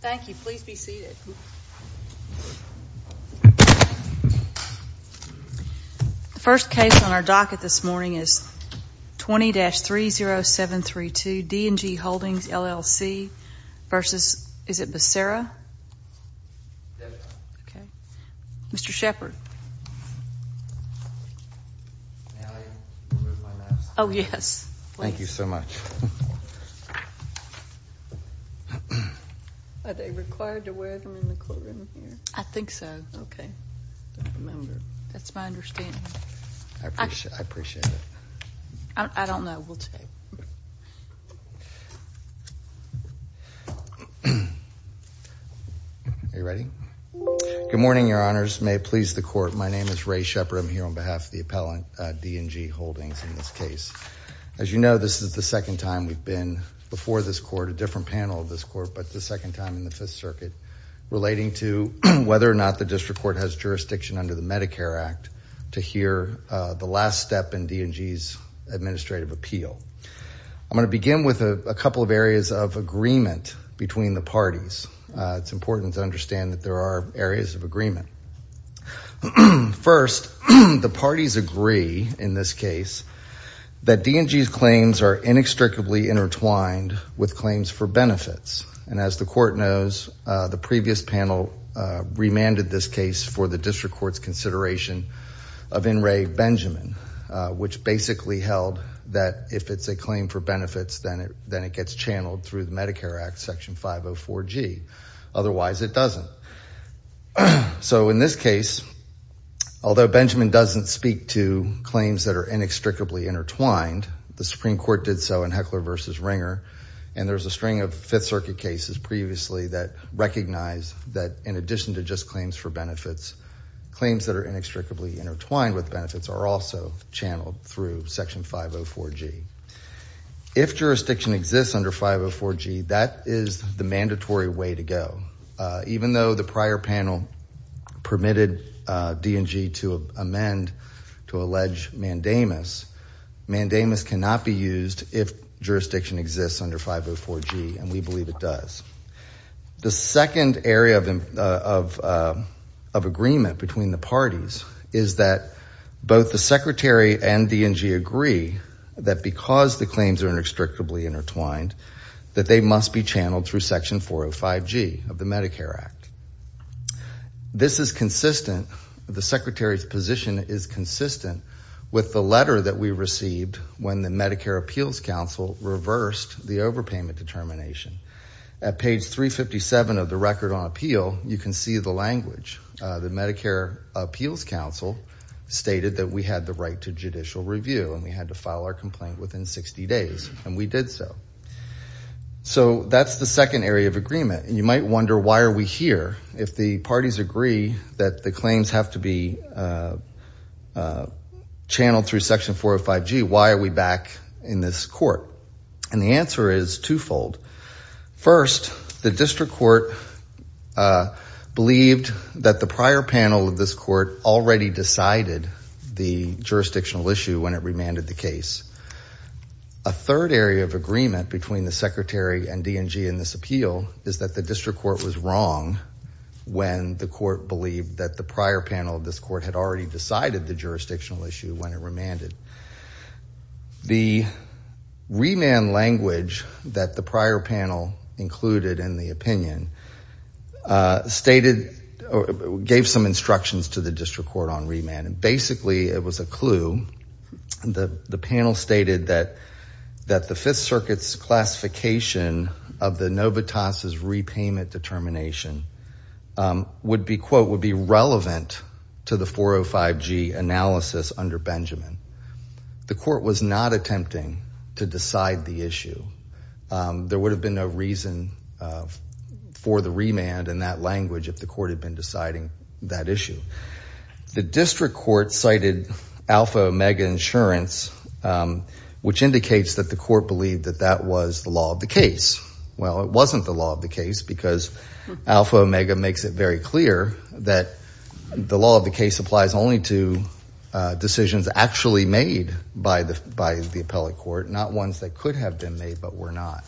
Thank you. Please be seated. The first case on our docket this morning is 20-30732 D&G Holdings, LLC v. Becerra. Mr. Shepard. Oh, yes. Thank you so much. Are they required to wear them in the courtroom here? I think so. Okay. That's my understanding. I appreciate it. I don't know. We'll check. Are you ready? Good morning, Your Honors. May it please the Court. My name is Ray Shepard. I'm here on behalf of the appellant, D&G Holdings, in this case. As you know, this is the second time we've been before this Court, a different panel of this Court, but the second time in the Fifth Circuit, relating to whether or not the district court has jurisdiction under the Medicare Act to hear the last step in D&G's administrative appeal. I'm going to begin with a couple of areas of agreement between the parties. It's important to understand that there are areas of agreement. First, the parties agree in this case that D&G's claims are inextricably intertwined with claims for benefits, and as the Court knows, the previous panel remanded this case for the district court's consideration of in re Benjamin, which basically held that if it's a claim for benefits, then it gets channeled through the Medicare Act, Section 504G. Otherwise, it doesn't. In this case, although Benjamin doesn't speak to claims that are inextricably intertwined, the Supreme Court did so in Heckler v. Ringer, and there's a string of Fifth Circuit cases previously that recognize that, in addition to just claims for benefits, claims that are inextricably intertwined with benefits are also channeled through Section 504G. If jurisdiction exists under 504G, that is the mandatory way to go. Even though the prior panel permitted D&G to amend to allege mandamus, mandamus cannot be used if jurisdiction exists under 504G, and we believe it does. The second area of agreement between the parties is that both the Secretary and D&G agree that because the claims are inextricably intertwined, that they must be channeled through Section 405G of the Medicare Act. This is consistent, the Secretary's position is consistent with the letter that we received when the Medicare Appeals Council reversed the overpayment determination. At page 357 of the record on appeal, you can see the language. The Medicare Appeals Council stated that we had the right to judicial review, and we had to file our complaint within 60 days, and we did so. So that's the second area of agreement, and you might wonder, why are we here? If the parties agree that the claims have to be channeled through Section 405G, why are we back in this court? And the answer is twofold. First, the district court believed that the prior panel of this court already decided the jurisdictional issue when it remanded the case. A third area of agreement between the Secretary and D&G in this appeal is that the district court was wrong when the court believed that the prior panel of this court had already decided the jurisdictional issue when it remanded. The remand language that the prior panel included in the opinion gave some instructions to the district court on remand, and basically it was a clue. The panel stated that the Fifth Circuit's classification of the Novotaz's repayment determination would be, quote, would be relevant to the 405G analysis under Benjamin. The court was not attempting to decide the issue. There would have been no reason for the remand in that language if the court had been deciding that issue. The district court cited Alpha Omega insurance, which indicates that the court believed that that was the law of the case. Well, it wasn't the law of the case because Alpha Omega makes it very clear that the law of the case applies only to decisions actually made by the appellate court, not ones that could have been made but were not.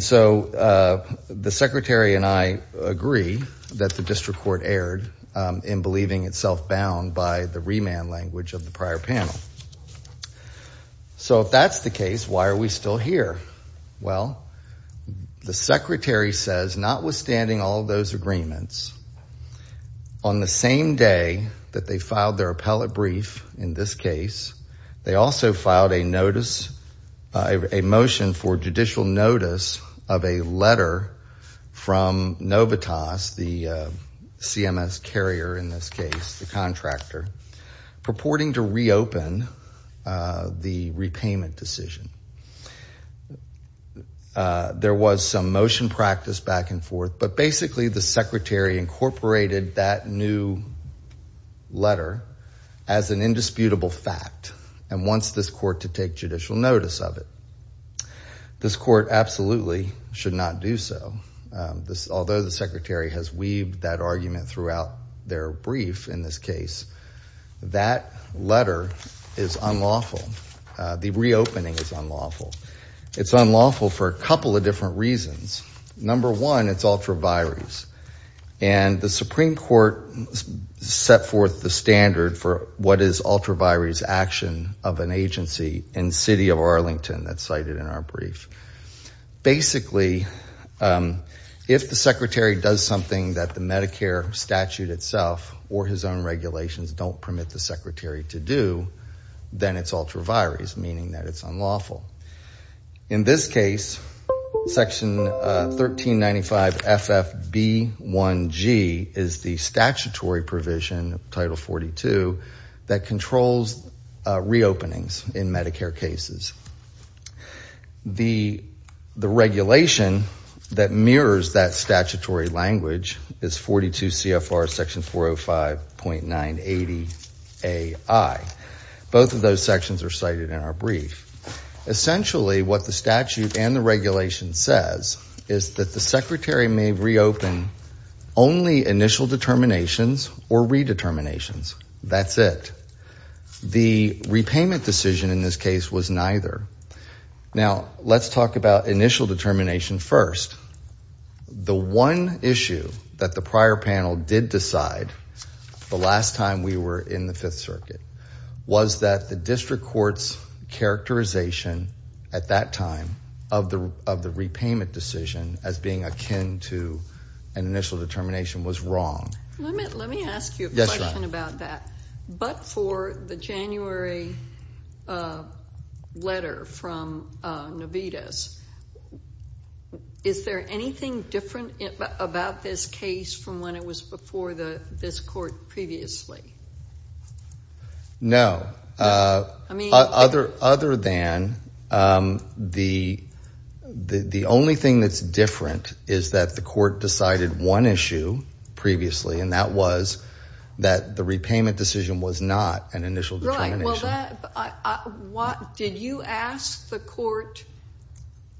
So the Secretary and I agree that the district court erred in believing itself bound by the remand language of the prior panel. So if that's the case, why are we still here? Well, the Secretary says notwithstanding all those agreements, on the same day that they filed their appellate brief in this case, they also filed a notice – a motion for judicial notice of a letter from Novotaz, the CMS carrier in this case, the contractor, purporting to reopen the repayment decision. There was some motion practice back and forth, but basically the Secretary incorporated that new letter as an indisputable fact and wants this court to take judicial notice of it. This court absolutely should not do so. Although the Secretary has weaved that argument throughout their brief in this case, that letter is unlawful. The reopening is unlawful. It's unlawful for a couple of different reasons. Number one, it's ultra-virus. And the Supreme Court set forth the standard for what is ultra-virus action of an agency in the city of Arlington that's cited in our brief. Basically, if the Secretary does something that the Medicare statute itself or his own regulations don't permit the Secretary to do, then it's ultra-virus, meaning that it's unlawful. In this case, Section 1395FFB1G is the statutory provision, Title 42, that controls reopenings in Medicare cases. The regulation that mirrors that statutory language is 42 CFR Section 405.980AI. Both of those sections are cited in our brief. Essentially, what the statute and the regulation says is that the Secretary may reopen only initial determinations or redeterminations. That's it. The repayment decision in this case was neither. Now, let's talk about initial determination first. The one issue that the prior panel did decide the last time we were in the Fifth Circuit was that the district court's characterization at that time of the repayment decision as being akin to an initial determination was wrong. Let me ask you a question about that. But for the January letter from Navitas, is there anything different about this case from when it was before this court previously? No. Other than the only thing that's different is that the court decided one issue previously, and that was that the repayment decision was not an initial determination. Right. Did you ask the court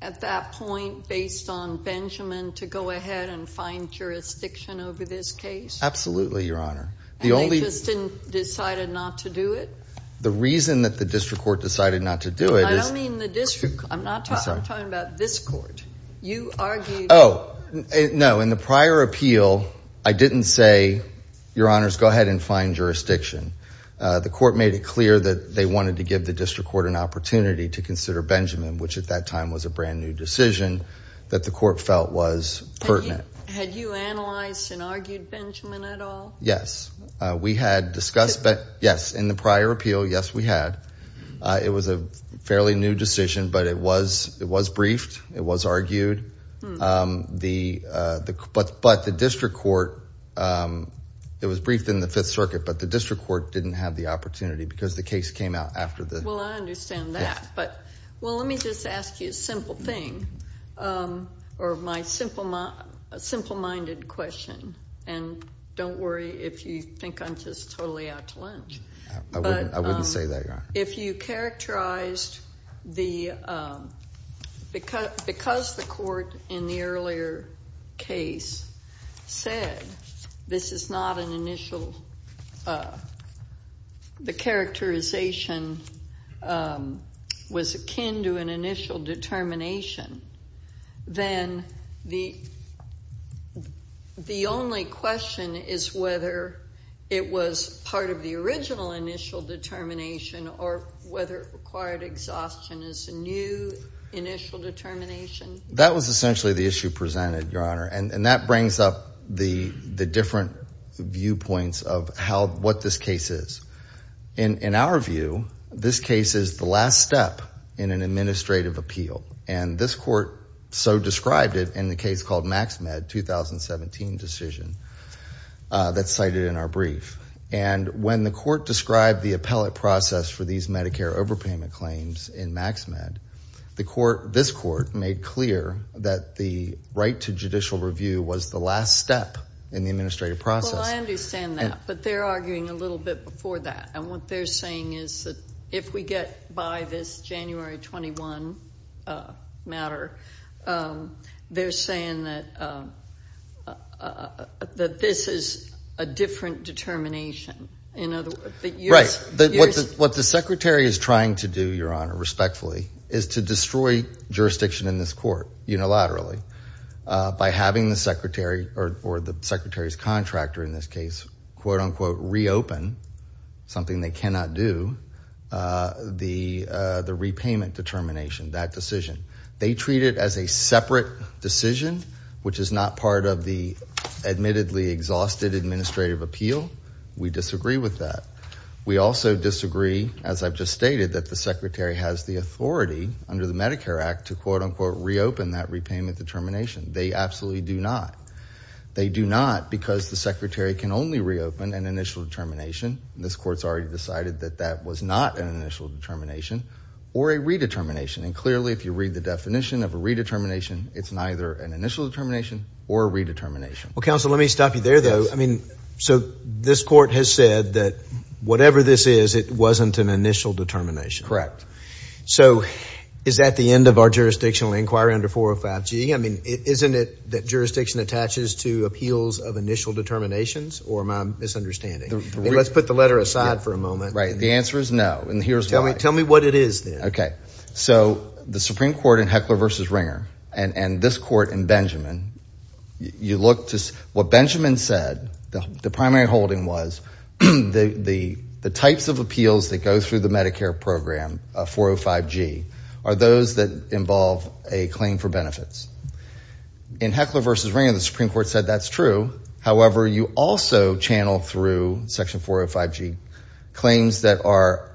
at that point, based on Benjamin, to go ahead and find jurisdiction over this case? Absolutely, Your Honor. And they just decided not to do it? The reason that the district court decided not to do it is— I don't mean the district. I'm sorry. I'm talking about this court. You argued— Oh, no. In the prior appeal, I didn't say, Your Honors, go ahead and find jurisdiction. The court made it clear that they wanted to give the district court an opportunity to consider Benjamin, which at that time was a brand-new decision that the court felt was pertinent. Had you analyzed and argued Benjamin at all? Yes. We had discussed— In the prior appeal? Yes, in the prior appeal. Yes, we had. It was a fairly new decision, but it was briefed. It was argued. But the district court—it was briefed in the Fifth Circuit, but the district court didn't have the opportunity because the case came out after the— Well, I understand that. Well, let me just ask you a simple thing or my simple-minded question, and don't worry if you think I'm just totally out to lunch. I wouldn't say that, Your Honor. If you characterized the—because the court in the earlier case said this is not an initial—the characterization was akin to an initial determination, then the only question is whether it was part of the original initial determination or whether it required exhaustion as a new initial determination. That was essentially the issue presented, Your Honor, and that brings up the different viewpoints of how—what this case is. In our view, this case is the last step in an administrative appeal, and this court so described it in the case called MaxMed 2017 decision that's cited in our brief. And when the court described the appellate process for these Medicare overpayment claims in MaxMed, the court—this court made clear that the right to judicial review was the last step in the administrative process. Well, I understand that, but they're arguing a little bit before that, and what they're saying is that if we get by this January 21 matter, they're saying that this is a different determination. Right. What the secretary is trying to do, Your Honor, respectfully, is to destroy jurisdiction in this court unilaterally by having the secretary or the secretary's contractor in this case quote-unquote reopen something they cannot do, the repayment determination, that decision. They treat it as a separate decision, which is not part of the admittedly exhausted administrative appeal. We disagree with that. We also disagree, as I've just stated, that the secretary has the authority under the Medicare Act to quote-unquote reopen that repayment determination. They absolutely do not. They do not because the secretary can only reopen an initial determination. This court's already decided that that was not an initial determination or a redetermination. And clearly, if you read the definition of a redetermination, it's neither an initial determination or a redetermination. Well, counsel, let me stop you there, though. I mean, so this court has said that whatever this is, it wasn't an initial determination. Correct. So is that the end of our jurisdictional inquiry under 405G? I mean, isn't it that jurisdiction attaches to appeals of initial determinations or am I misunderstanding? Let's put the letter aside for a moment. Right. The answer is no. And here's why. Tell me what it is then. Okay. So the Supreme Court in Heckler v. Ringer and this court in Benjamin, you look to what Benjamin said. The primary holding was the types of appeals that go through the Medicare program, 405G, are those that involve a claim for benefits. In Heckler v. Ringer, the Supreme Court said that's true. However, you also channel through Section 405G claims that are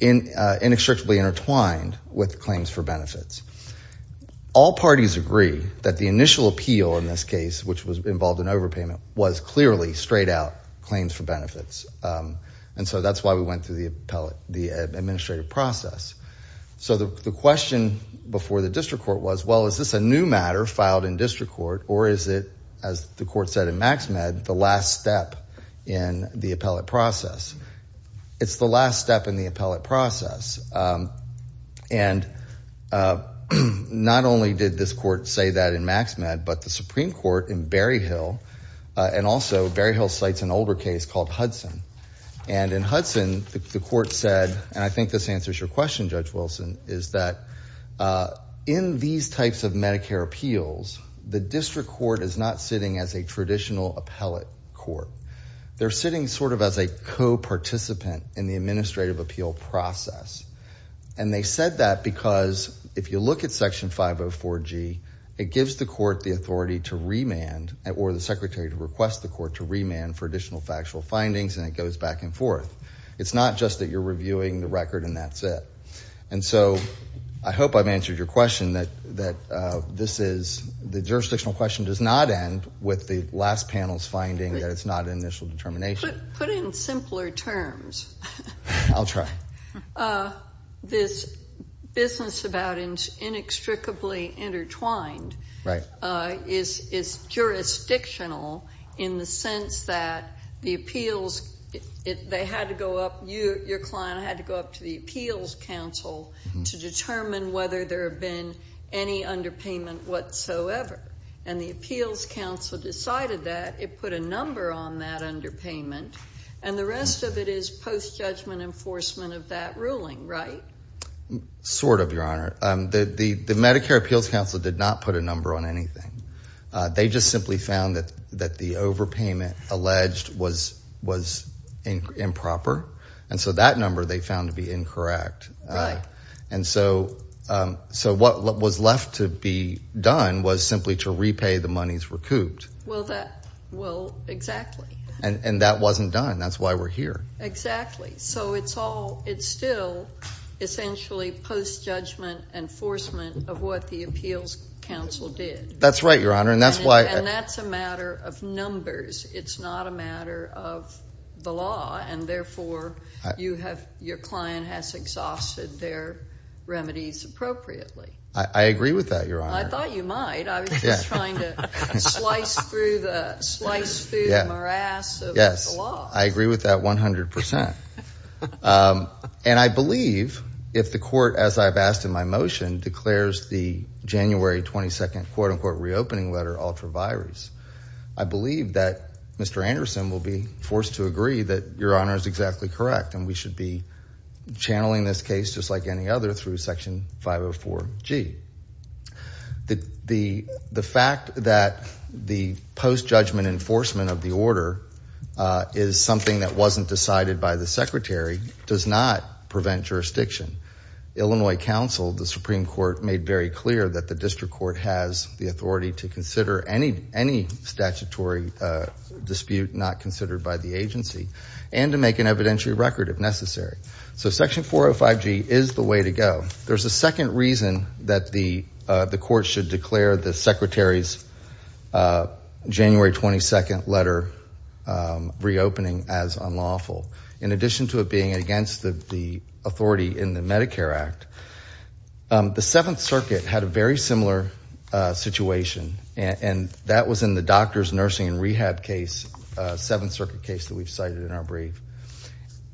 inextricably intertwined with claims for benefits. All parties agree that the initial appeal in this case, which was involved in overpayment, was clearly straight out claims for benefits. And so that's why we went through the administrative process. So the question before the district court was, well, is this a new matter filed in district court or is it, as the court said in Maxmed, the last step in the appellate process? It's the last step in the appellate process. And not only did this court say that in Maxmed, but the Supreme Court in Berryhill and also Berryhill cites an older case called Hudson. And in Hudson, the court said, and I think this answers your question, Judge Wilson, is that in these types of Medicare appeals, the district court is not sitting as a traditional appellate court. They're sitting sort of as a co-participant in the administrative appeal process. And they said that because if you look at Section 504G, it gives the court the authority to remand or the secretary to request the court to remand for additional factual findings and it goes back and forth. It's not just that you're reviewing the record and that's it. And so I hope I've answered your question that this is, the jurisdictional question does not end with the last panel's finding that it's not an initial determination. Put it in simpler terms. I'll try. This business about inextricably intertwined is jurisdictional in the sense that the appeals, they had to go up, your client had to go up to the appeals council to determine whether there had been any underpayment whatsoever. And the appeals council decided that. It put a number on that underpayment. And the rest of it is post-judgment enforcement of that ruling, right? Sort of, Your Honor. The Medicare appeals council did not put a number on anything. They just simply found that the overpayment alleged was improper. And so that number they found to be incorrect. Right. And so what was left to be done was simply to repay the monies recouped. Well, exactly. And that wasn't done. That's why we're here. Exactly. So it's all, it's still essentially post-judgment enforcement of what the appeals council did. That's right, Your Honor. And that's a matter of numbers. It's not a matter of the law. And therefore, you have, your client has exhausted their remedies appropriately. I agree with that, Your Honor. I thought you might. I was just trying to slice through the morass of the law. Yes. I agree with that 100%. And I believe if the court, as I've asked in my motion, declares the January 22nd quote-unquote reopening letter ultra-virus, I believe that Mr. Anderson will be forced to agree that Your Honor is exactly correct and we should be channeling this case just like any other through Section 504G. The fact that the post-judgment enforcement of the order is something that wasn't decided by the secretary does not prevent jurisdiction. Illinois Council, the Supreme Court, made very clear that the district court has the authority to consider any statutory dispute not considered by the agency and to make an evidentiary record if necessary. So Section 405G is the way to go. There's a second reason that the court should declare the secretary's January 22nd letter reopening as unlawful. In addition to it being against the authority in the Medicare Act, the Seventh Circuit had a very similar situation, and that was in the doctors, nursing, and rehab case, Seventh Circuit case that we've cited in our brief.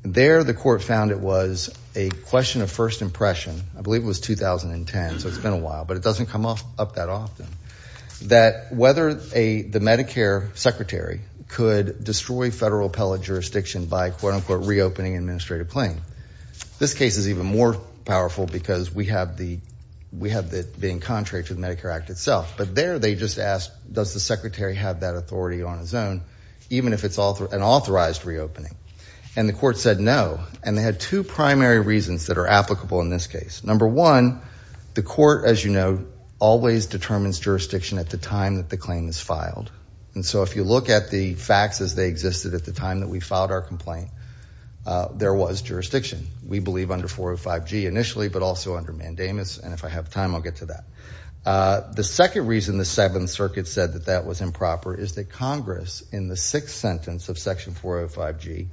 There the court found it was a question of first impression, I believe it was 2010, so it's been a while, but it doesn't come up that often, that whether the Medicare secretary could destroy federal appellate jurisdiction by quote-unquote reopening administrative claim. This case is even more powerful because we have it being contrary to the Medicare Act itself, but there they just asked does the secretary have that authority on his own, even if it's an authorized reopening, and the court said no, and they had two primary reasons that are applicable in this case. Number one, the court, as you know, always determines jurisdiction at the time that the claim is filed, and so if you look at the facts as they existed at the time that we filed our complaint, there was jurisdiction, we believe under 405G initially, but also under mandamus, and if I have time I'll get to that. The second reason the Seventh Circuit said that that was improper is that Congress in the sixth sentence of section 405G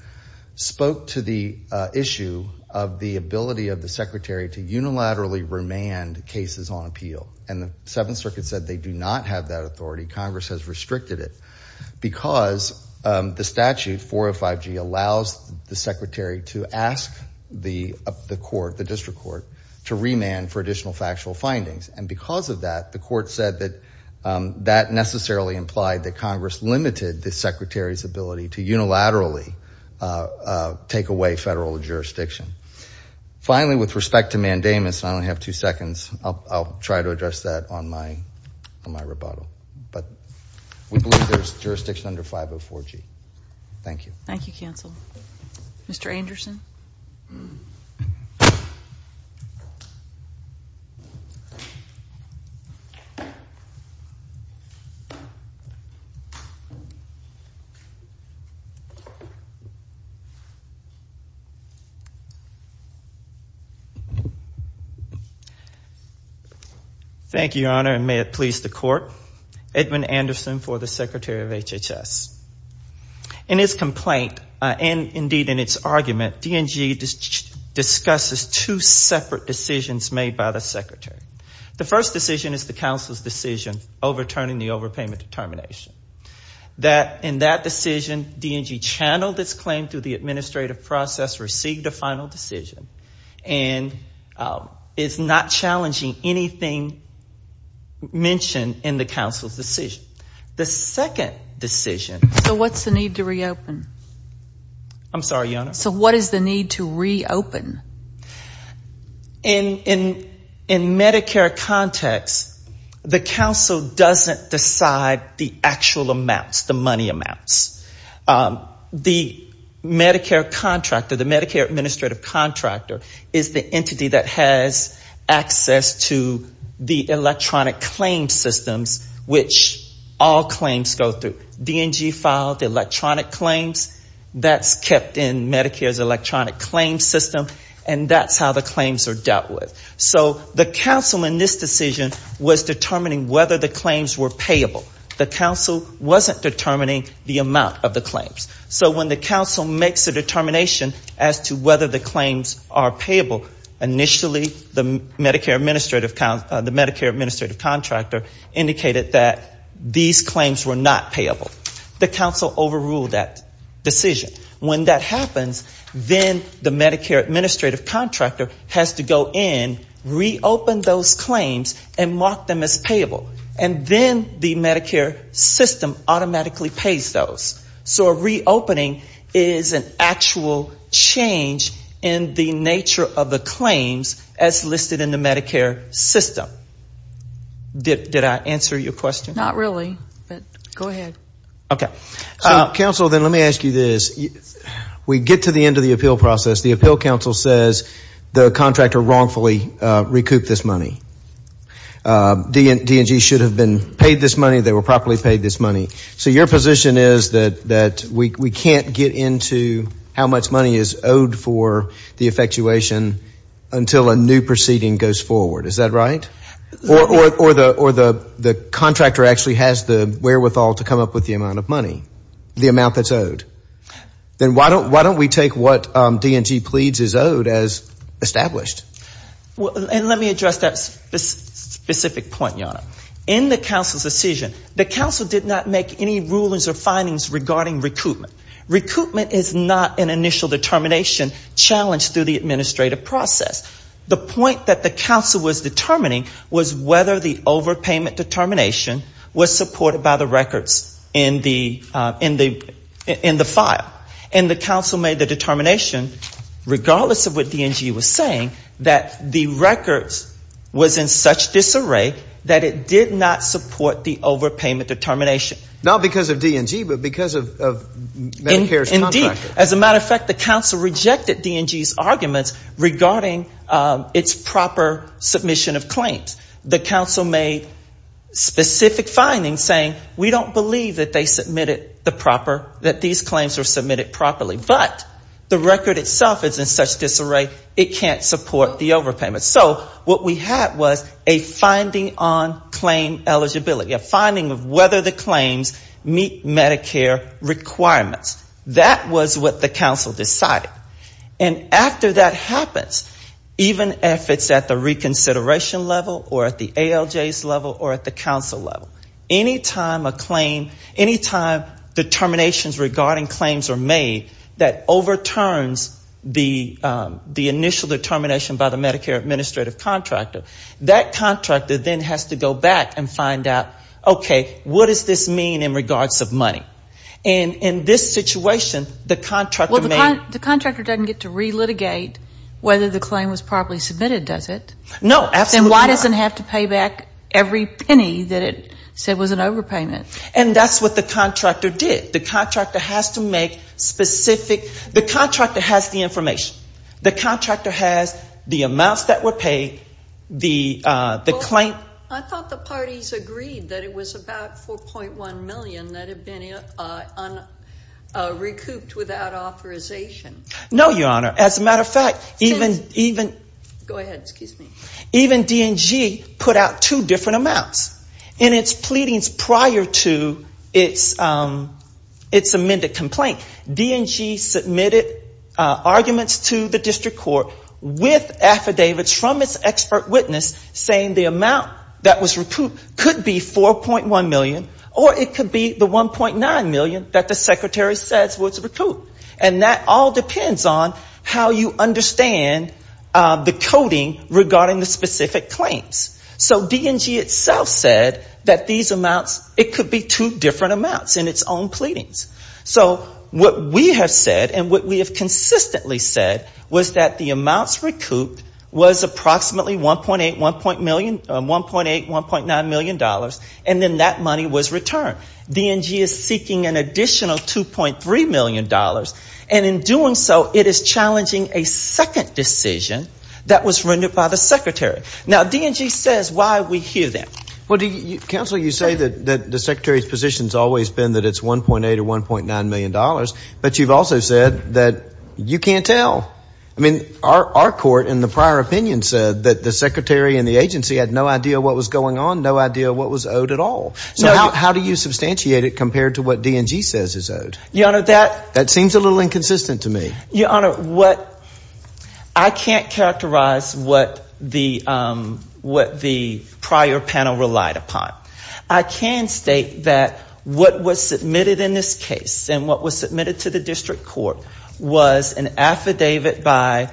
spoke to the issue of the ability of the secretary to unilaterally remand cases on appeal, and the Seventh Circuit said they do not have that authority. Congress has restricted it because the statute 405G allows the secretary to ask the court, the district court, to remand for additional factual findings, and because of that the court said that that necessarily implied that Congress limited the secretary's ability to unilaterally take away federal jurisdiction. Finally, with respect to mandamus, I only have two seconds. I'll try to address that on my rebuttal, but we believe there's jurisdiction under 504G. Thank you. Thank you, counsel. Mr. Anderson. Thank you, Your Honor, and may it please the court. Edmund Anderson for the Secretary of HHS. In his complaint, and indeed in its argument, D&G discusses two separate decisions made by the secretary. The first decision is the counsel's decision overturning the overpayment determination. In that decision, D&G channeled its claim through the administrative process, received a final decision, and is not challenging anything mentioned in the counsel's decision. The second decision. So what's the need to reopen? I'm sorry, Your Honor? So what is the need to reopen? In Medicare context, the counsel doesn't decide the actual amounts, the money amounts. The Medicare contractor, the Medicare administrative contractor, is the entity that has access to the electronic claim systems which all claims go through. D&G filed the electronic claims. That's kept in Medicare's electronic claim system, and that's how the claims are dealt with. So the counsel in this decision was determining whether the claims were payable. The counsel wasn't determining the amount of the claims. So when the counsel makes a determination as to whether the claims are payable, initially the Medicare administrative contractor indicated that these claims were not payable. The counsel overruled that decision. When that happens, then the Medicare administrative contractor has to go in, reopen those claims, and mark them as payable. And then the Medicare system automatically pays those. So a reopening is an actual change in the nature of the claims as listed in the Medicare system. Did I answer your question? Not really, but go ahead. Okay. Counsel, then let me ask you this. We get to the end of the appeal process. The appeal counsel says the contractor wrongfully recouped this money. D&G should have been paid this money. They were properly paid this money. So your position is that we can't get into how much money is owed for the effectuation until a new proceeding goes forward. Is that right? Or the contractor actually has the wherewithal to come up with the amount of money, the amount that's owed. Then why don't we take what D&G pleads is owed as established? In the counsel's decision, the counsel did not make any rulings or findings regarding recoupment. Recoupment is not an initial determination challenged through the administrative process. The point that the counsel was determining was whether the overpayment determination was supported by the records in the file. And the counsel made the determination, regardless of what D&G was saying, that the records was in such disarray that it did not support the overpayment determination. Not because of D&G, but because of Medicare's contractor. Indeed. As a matter of fact, the counsel rejected D&G's arguments regarding its proper submission of claims. The counsel made specific findings saying we don't believe that they submitted the proper, that these claims were submitted properly. But the record itself is in such disarray, it can't support the overpayment. So what we had was a finding on claim eligibility, a finding of whether the claims meet Medicare requirements. That was what the counsel decided. And after that happens, even if it's at the reconsideration level or at the ALJ's level or at the counsel level, any time a claim, any time determinations regarding claims are made that overturns the initial determination by the Medicare administrative contractor, that contractor then has to go back and find out, okay, what does this mean in regards of money? And in this situation, the contractor may Well, the contractor doesn't get to relitigate whether the claim was properly submitted, does it? No, absolutely not. Then why does it have to pay back every penny that it said was an overpayment? And that's what the contractor did. The contractor has to make specific, the contractor has the information. The contractor has the amounts that were paid, the claim I thought the parties agreed that it was about $4.1 million that had been recouped without authorization. No, Your Honor. As a matter of fact, even Go ahead, excuse me. Even D&G put out two different amounts in its pleadings prior to its amended complaint. D&G submitted arguments to the district court with affidavits from its expert witness saying the amount was not that was recouped could be $4.1 million or it could be the $1.9 million that the secretary says was recouped. And that all depends on how you understand the coding regarding the specific claims. So D&G itself said that these amounts, it could be two different amounts in its own pleadings. So what we have said and what we have consistently said was that the amounts recouped was approximately $1.8, $1.9 million, and then that money was returned. D&G is seeking an additional $2.3 million. And in doing so, it is challenging a second decision that was rendered by the secretary. Now, D&G says why we hear that. Counsel, you say that the secretary's position has always been that it's $1.8 or $1.9 million, but you've also said that you can't tell. I mean, our court, in the prior opinion, said that the secretary and the agency had no idea what was going on, no idea what was owed at all. So how do you substantiate it compared to what D&G says is owed? That seems a little inconsistent to me. Your Honor, I can't characterize what the prior panel relied upon. I can state that what was submitted in this case and what was submitted to the district court was an affidavit of $1.8 million. It was an affidavit by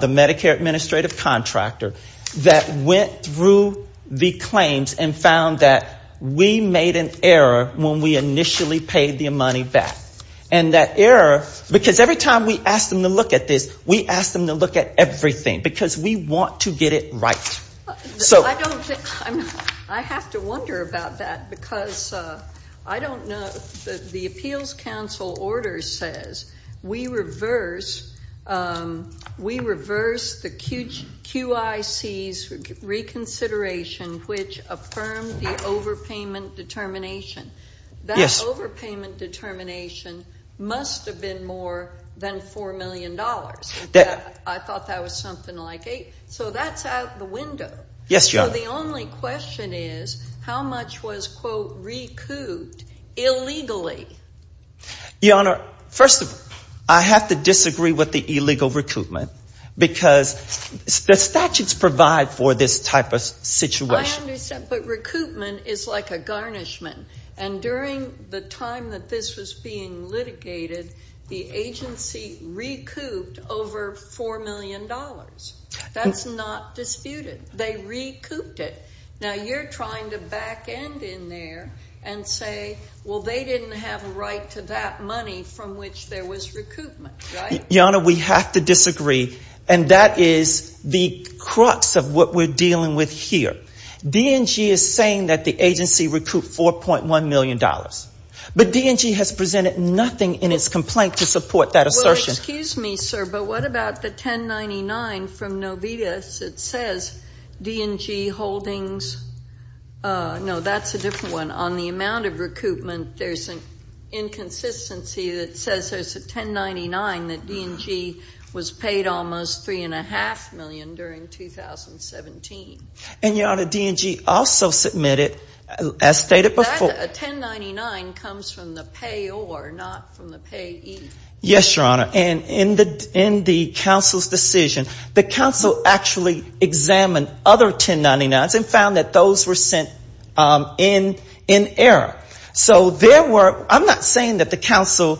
the Medicare administrative contractor that went through the claims and found that we made an error when we initially paid the money back. And that error, because every time we asked them to look at this, we asked them to look at everything, because we want to get it right. I have to wonder about that, because I don't know. The appeals counsel order says we reverse the QIC's reconsideration, which affirmed the overpayment determination. That overpayment determination must have been more than $4 million. I thought that was something like $8 million. So that's out the window. So the only question is how much was recouped illegally? Your Honor, first of all, I have to disagree with the illegal recoupment, because the statutes provide for this type of situation. I understand, but recoupment is like a garnishment. And during the time that this was being litigated, the agency recouped over $4 million. That was not disputed. They recouped it. Now you're trying to back end in there and say, well, they didn't have a right to that money from which there was recoupment, right? Your Honor, we have to disagree, and that is the crux of what we're dealing with here. DNG is saying that the agency recouped $4.1 million. But DNG has presented nothing in its complaint to support that assertion. Well, excuse me, sir, but what about the 1099 from Novitas that says DNG holdings? No, that's a different one. On the amount of recoupment, there's an inconsistency that says there's a 1099 that DNG was paid almost $3.5 million during 2017. And, Your Honor, DNG also submitted, as stated before. That 1099 comes from the payor, not from the payee. Yes, Your Honor. And in the council's decision, the council actually examined other 1099s and found that those were sent in error. So there were, I'm not saying that the council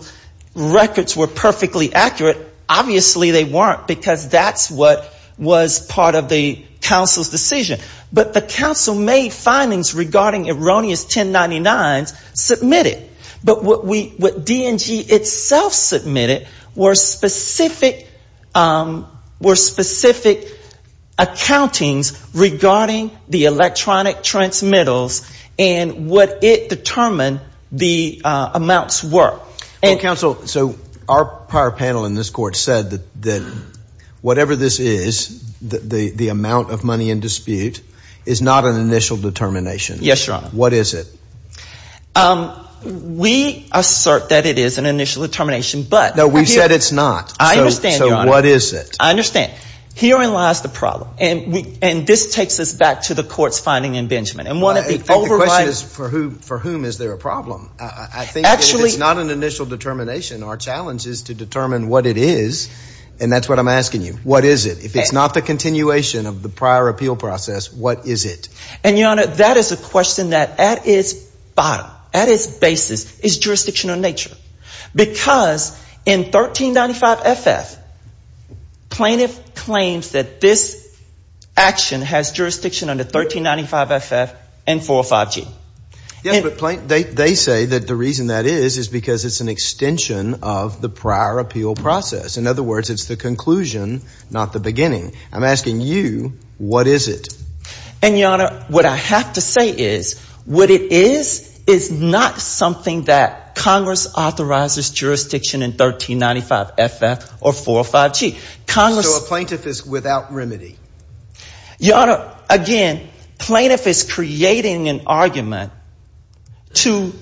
records were perfectly accurate. Obviously they weren't, because that's what was part of the council's decision. But the council made findings regarding erroneous 1099s submitted. But what DNG itself submitted were specific accountings regarding the electronic transmittals and what it determined the amounts were. Well, counsel, so our prior panel in this court said that whatever this is, the amount of money in dispute is not an initial determination. Yes, Your Honor. What is it? We assert that it is an initial determination. No, we've said it's not. I understand, Your Honor. So what is it? I understand. Herein lies the problem. Because in 1395 FF, plaintiff claims that this action has jurisdiction under 1395 FF and 405 G. Yes, but they say that the reason that is is because it's an extension of the prior appeal process. In other words, it's the conclusion, not the beginning. I'm asking you, what is it? And, Your Honor, what I have to say is, what it is, is not something that Congress authorizes jurisdiction in 1395 FF or 405 G. So a plaintiff is without remedy. Your Honor, again, plaintiff is creating an argument to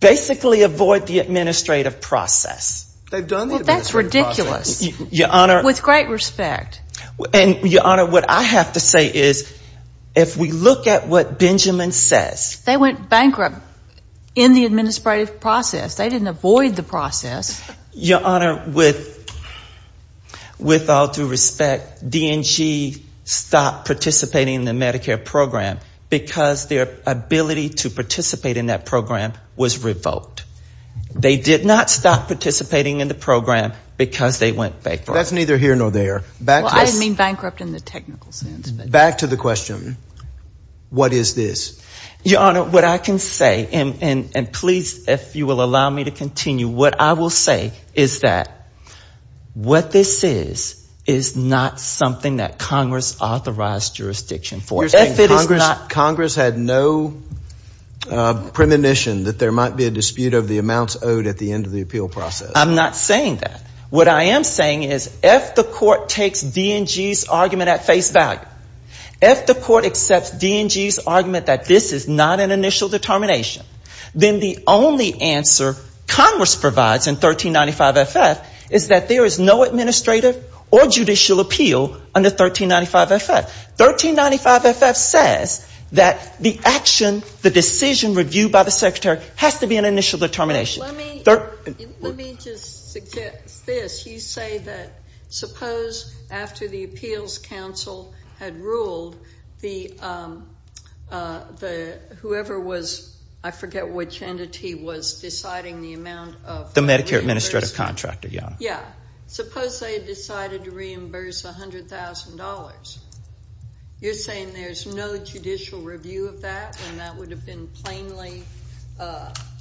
basically avoid the administrative process. Well, that's ridiculous. With great respect. And, Your Honor, what I have to say is, if we look at what Benjamin says. They went bankrupt in the administrative process. They didn't avoid the process. Your Honor, with all due respect, D&G stopped participating in the Medicare program because their ability to participate in that program was revoked. They did not stop participating in the program because they went bankrupt. That's neither here nor there. Well, I didn't mean bankrupt in the technical sense. Back to the question, what is this? Your Honor, what I can say, and please, if you will allow me to continue, what I will say is that what this is, is not something that Congress authorized jurisdiction for. Congress had no premonition that there might be a dispute over the amounts owed at the end of the appeal process. I'm not saying that. What I am saying is, if the court takes D&G's argument at face value, if the court accepts D&G's argument that this is not an initial determination, then the only answer Congress provides in 1395 FF is that there is no administrative or judicial appeal under 1395 FF. 1395 FF says that the action, the decision reviewed by the secretary has to be an initial determination. Let me just suggest this. You say that suppose after the appeals council had ruled, whoever was, I forget which entity was deciding the amount of $100,000, you're saying there's no judicial review of that and that would have been plainly,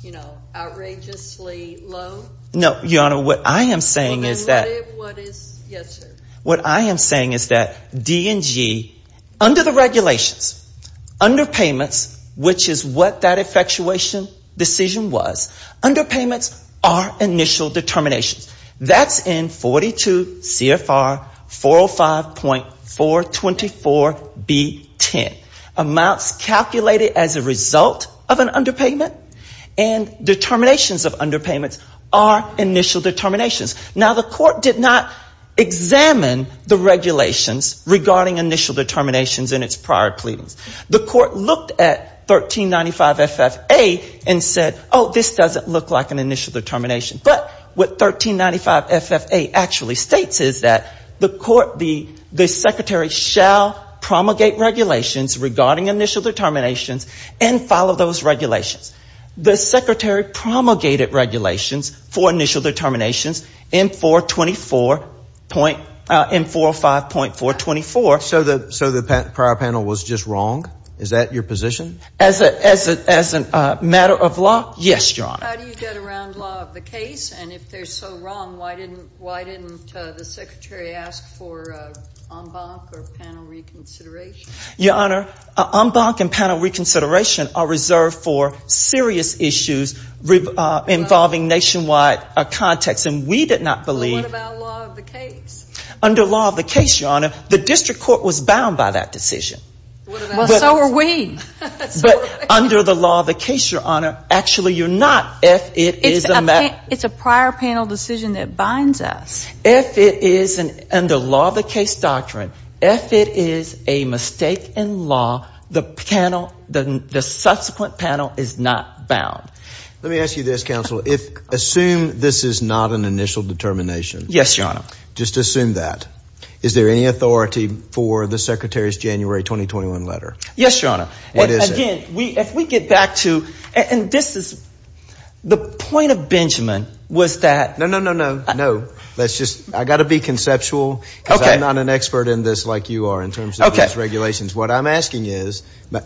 you know, outrageously low? No, Your Honor. What I am saying is that D&G, under the regulations, under payments, which is what that effectuation decision was, under payments are initial determinations. That's in 42 CFR 405.424B10. Amounts calculated as a result of an underpayment and determinations of underpayments are initial determinations. Now, the court did not examine the regulations regarding initial determinations in its prior pleadings. The court looked at 1395 FF A and said, oh, this doesn't look like an initial determination. But what 1395 FF A actually states is that the court, the secretary shall promulgate regulations regarding initial determinations and follow those regulations. The secretary promulgated regulations for initial determinations in 424 point, in 405.424. So the prior panel was just wrong? Is that your position? As a matter of law? Yes, Your Honor. How do you get around law of the case? And if they're so wrong, why didn't the secretary ask for en banc or panel reconsideration? Your Honor, en banc and panel reconsideration are reserved for serious issues involving nationwide context. And we did not believe. What about law of the case? Under law of the case, Your Honor, the district court was bound by that decision. Well, so are we. But under the law of the case, Your Honor, actually you're not. It's a prior panel decision that binds us. If it is under law of the case doctrine, if it is a mistake in law, the panel, the subsequent panel is not bound. Let me ask you this, counsel, assume this is not an initial determination. Yes, Your Honor. Just assume that. Is there any authority for the secretary's January 2021 letter? Yes, Your Honor. And this is the point of Benjamin was that. No, no, no, no, no. That's just I got to be conceptual. I'm not an expert in this like you are in terms of regulations. What I'm asking is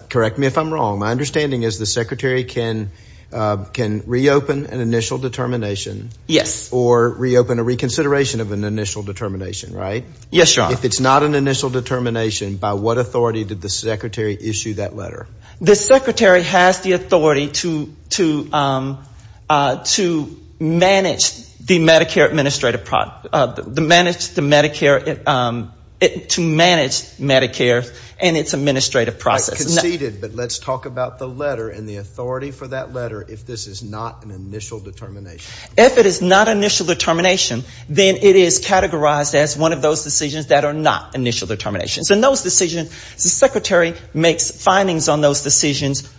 correct me if I'm wrong. My understanding is the secretary can can reopen an initial determination. Yes. Or reopen a reconsideration of an initial determination. Right. Yes, Your Honor. If it's not an initial determination, by what authority did the secretary issue that letter? The secretary has the authority to to to manage the Medicare administrative product, the managed the Medicare to manage Medicare and its administrative process. But let's talk about the letter and the authority for that letter. If this is not an initial determination. If it is not initial determination, then it is categorized as one of those decisions that are not initial determinations. And those decisions, the secretary makes findings on those decisions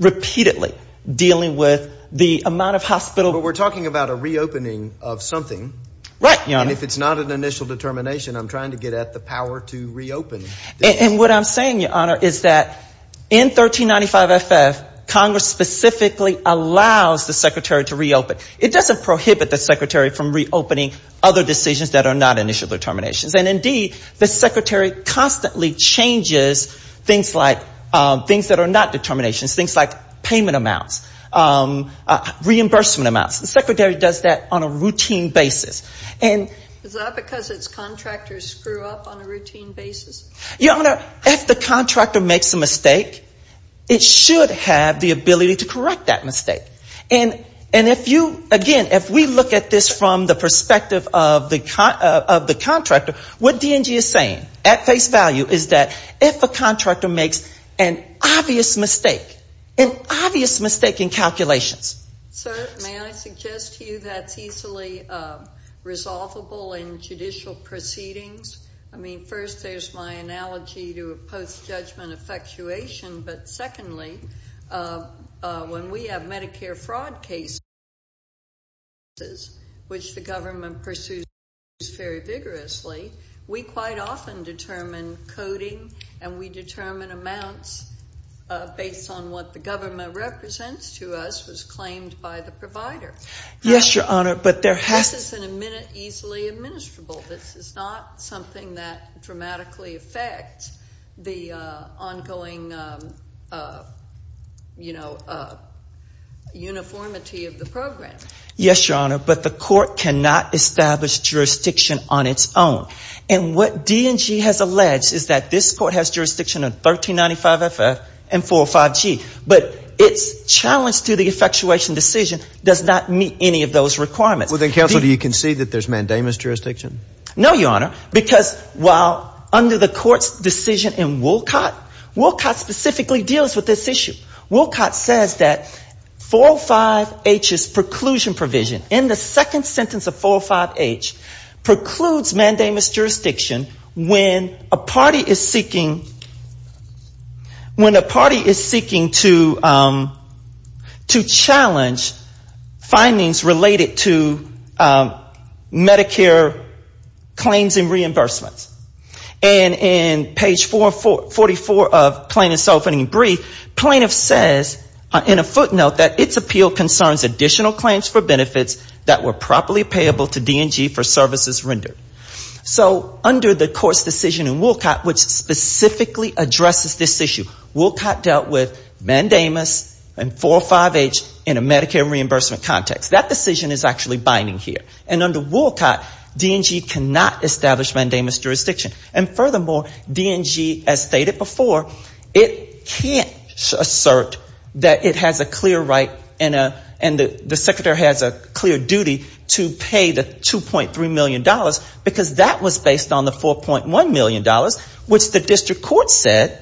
repeatedly dealing with the amount of hospital. But we're talking about a reopening of something. Right. And if it's not an initial determination, I'm trying to get at the power to reopen. And what I'm saying, Your Honor, is that in 1395 FF, Congress specifically allows the secretary to reopen. It doesn't prohibit the secretary from reopening other decisions that are not initial determinations. And indeed, the secretary constantly changes things like things that are not determinations, things like payment amounts, reimbursement amounts. The secretary does that on a routine basis. Is that because its contractors screw up on a routine basis? Your Honor, if the contractor makes a mistake, it should have the ability to correct that mistake. And if you, again, if we look at this from the perspective of the contractor, what DNG is saying at face value is that if a contractor makes an obvious mistake, an obvious mistake in calculations. Sir, may I suggest to you that's easily resolvable in judicial proceedings? I mean, first, there's my analogy to a post-judgment effectuation. But secondly, when we have Medicare fraud cases, which the government pursues very vigorously, we quite often determine coding, and we determine amounts based on what the government represents to us. This is easily administrable. This is not something that dramatically affects the ongoing, you know, uniformity of the program. Yes, Your Honor, but the court cannot establish jurisdiction on its own. And what DNG has alleged is that this court has jurisdiction of 1395 FF and 405 G. But its challenge to the effectuation decision does not meet any of those requirements. Well, then, counsel, do you concede that there's mandamus jurisdiction? No, Your Honor, because while under the court's decision in Wolcott, Wolcott specifically deals with this issue. Wolcott says that 405 H's preclusion provision, in the second sentence of 405 H, precludes mandamus jurisdiction when a party is seeking to challenge findings related to Medicare claims and reimbursements. And in page 444 of plaintiff's opening brief, plaintiff says in a footnote that its appeal concerns additional claims for benefits that were properly payable to DNG for services rendered. So under the court's decision in Wolcott, which specifically addresses this issue, Wolcott dealt with mandamus and 405 H in a Medicare reimbursement context. That decision is actually binding here. It's not binding on the fact that DNG has mandamus jurisdiction. And furthermore, DNG, as stated before, it can't assert that it has a clear right and the secretary has a clear duty to pay the $2.3 million because that was based on the $4.1 million, which the district court said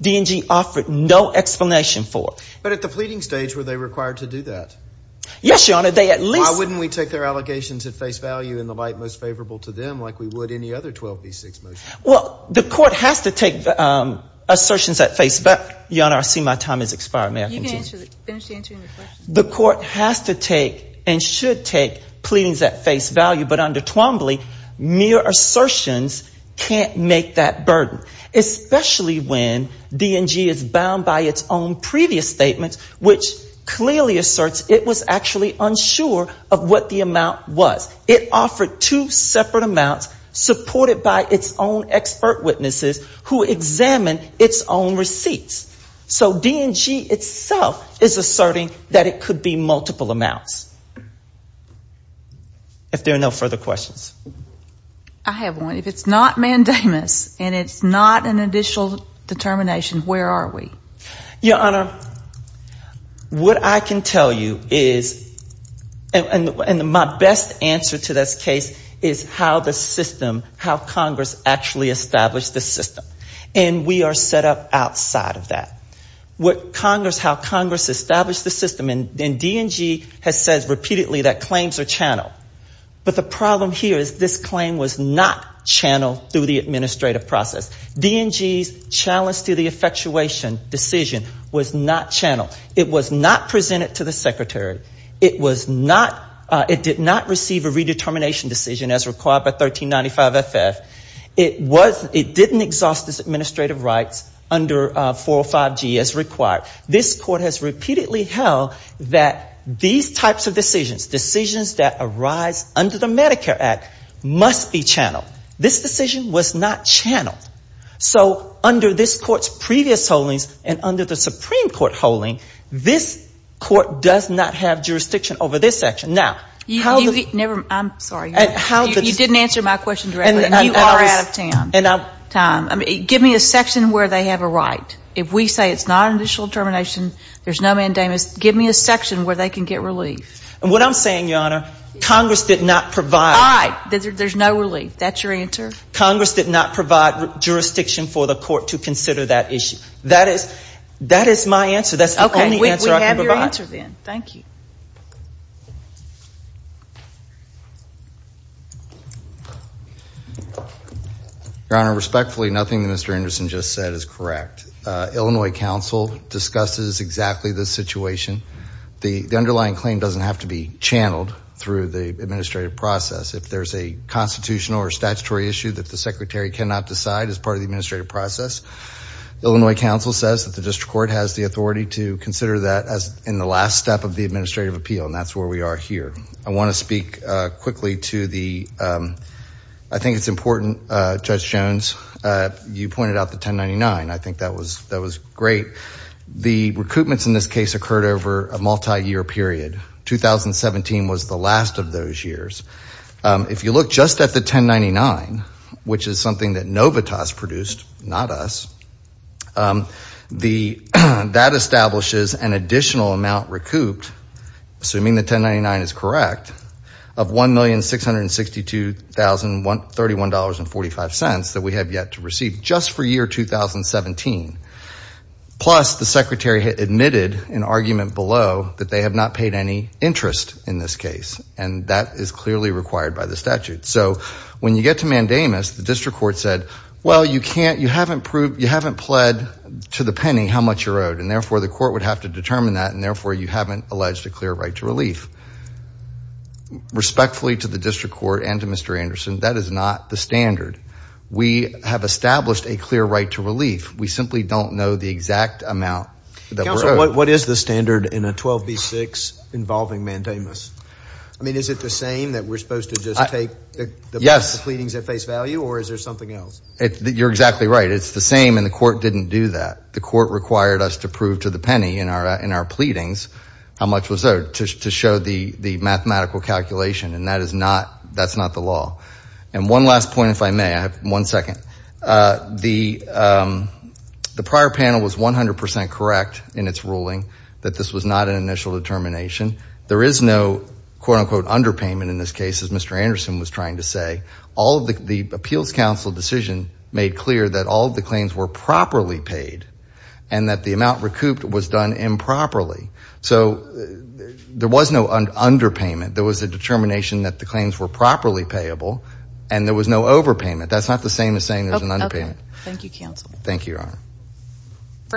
DNG offered no explanation for. But at the pleading stage, were they required to do that? Yes, Your Honor, they at least Why wouldn't we take their allegations at face value in the light most favorable to them like we would any other 12B6 motion? Well, the court has to take assertions at face, Your Honor, I see my time has expired. May I continue? The court has to take and should take pleadings at face value, but under Twombly, mere assertions can't make that burden, especially when DNG is bound by its own previous statements, which clearly asserts it can't make that burden. It was actually unsure of what the amount was. It offered two separate amounts supported by its own expert witnesses who examined its own receipts. So DNG itself is asserting that it could be multiple amounts. If there are no further questions. I have one. If it's not mandamus and it's not an additional determination, where are we? And my best answer to this case is how the system, how Congress actually established the system. And we are set up outside of that. How Congress established the system, and DNG has said repeatedly that claims are channeled. But the problem here is this claim was not channeled through the administrative process. DNG's challenge to the effectuation decision was not channeled. It was not presented to the secretary. It did not receive a redetermination decision as required by 1395FF. It didn't exhaust its administrative rights under 405G as required. This court has repeatedly held that these types of decisions, decisions that arise under the Medicare Act, must be channeled. This decision was not channeled. So under this court's previous holdings and under the Supreme Court holding, this court does not have jurisdiction over this section. Now, how the... You didn't answer my question directly, and you are out of time. Give me a section where they have a right. If we say it's not an additional determination, there's no mandamus, give me a section where they can get relief. And what I'm saying, Your Honor, Congress did not provide... Congress did not provide jurisdiction for the court to consider that issue. That is my answer. That's the only answer I can provide. Your Honor, respectfully, nothing that Mr. Anderson just said is correct. Illinois Council discusses exactly the situation. The underlying claim doesn't have to be channeled through the administrative process. If there's a constitutional or statutory issue that the Secretary cannot decide as part of the administrative process, Illinois Council says that the district court has the authority to consider that in the last step of the administrative appeal. And that's where we are here. I want to speak quickly to the... I think it's important, Judge Jones, you pointed out the 1099. I think that was great. The recoupments in this case occurred over a multi-year period. 2017 was the last of those years. If you look just at the 1099, which is something that Novitas produced, not us, that establishes an additional amount recouped, assuming the 1099 is correct, of $1,662,031.45 that we have yet to receive just for year 2017. Plus, the Secretary admitted in argument below that they have not paid any interest in this case. And that is clearly required by the statute. So, when you get to mandamus, the district court said, well, you haven't pled to the penny how much you're owed, and therefore the court would have to determine that, and therefore you haven't alleged a clear right to relief. Respectfully to the district court and to Mr. Anderson, that is not the standard. We have established a clear right to relief. We simply don't know the exact amount. Counsel, what is the standard in a 12B6 involving mandamus? I mean, is it the same that we're supposed to just take the pleadings at face value, or is there something else? You're exactly right. It's the same, and the court didn't do that. The court required us to prove to the penny in our pleadings how much was owed to show the mathematical calculation, and that's not the law. And one last point, if I may. I have one second. The prior panel was 100% correct in its ruling that this was not an initial determination. There is no quote-unquote underpayment in this case, as Mr. Anderson was trying to say. The appeals counsel decision made clear that all of the claims were properly paid, and that the amount recouped was done improperly. So there was no underpayment. There was a determination that the claims were properly payable, and there was no overpayment. That's not the same as saying there's an underpayment.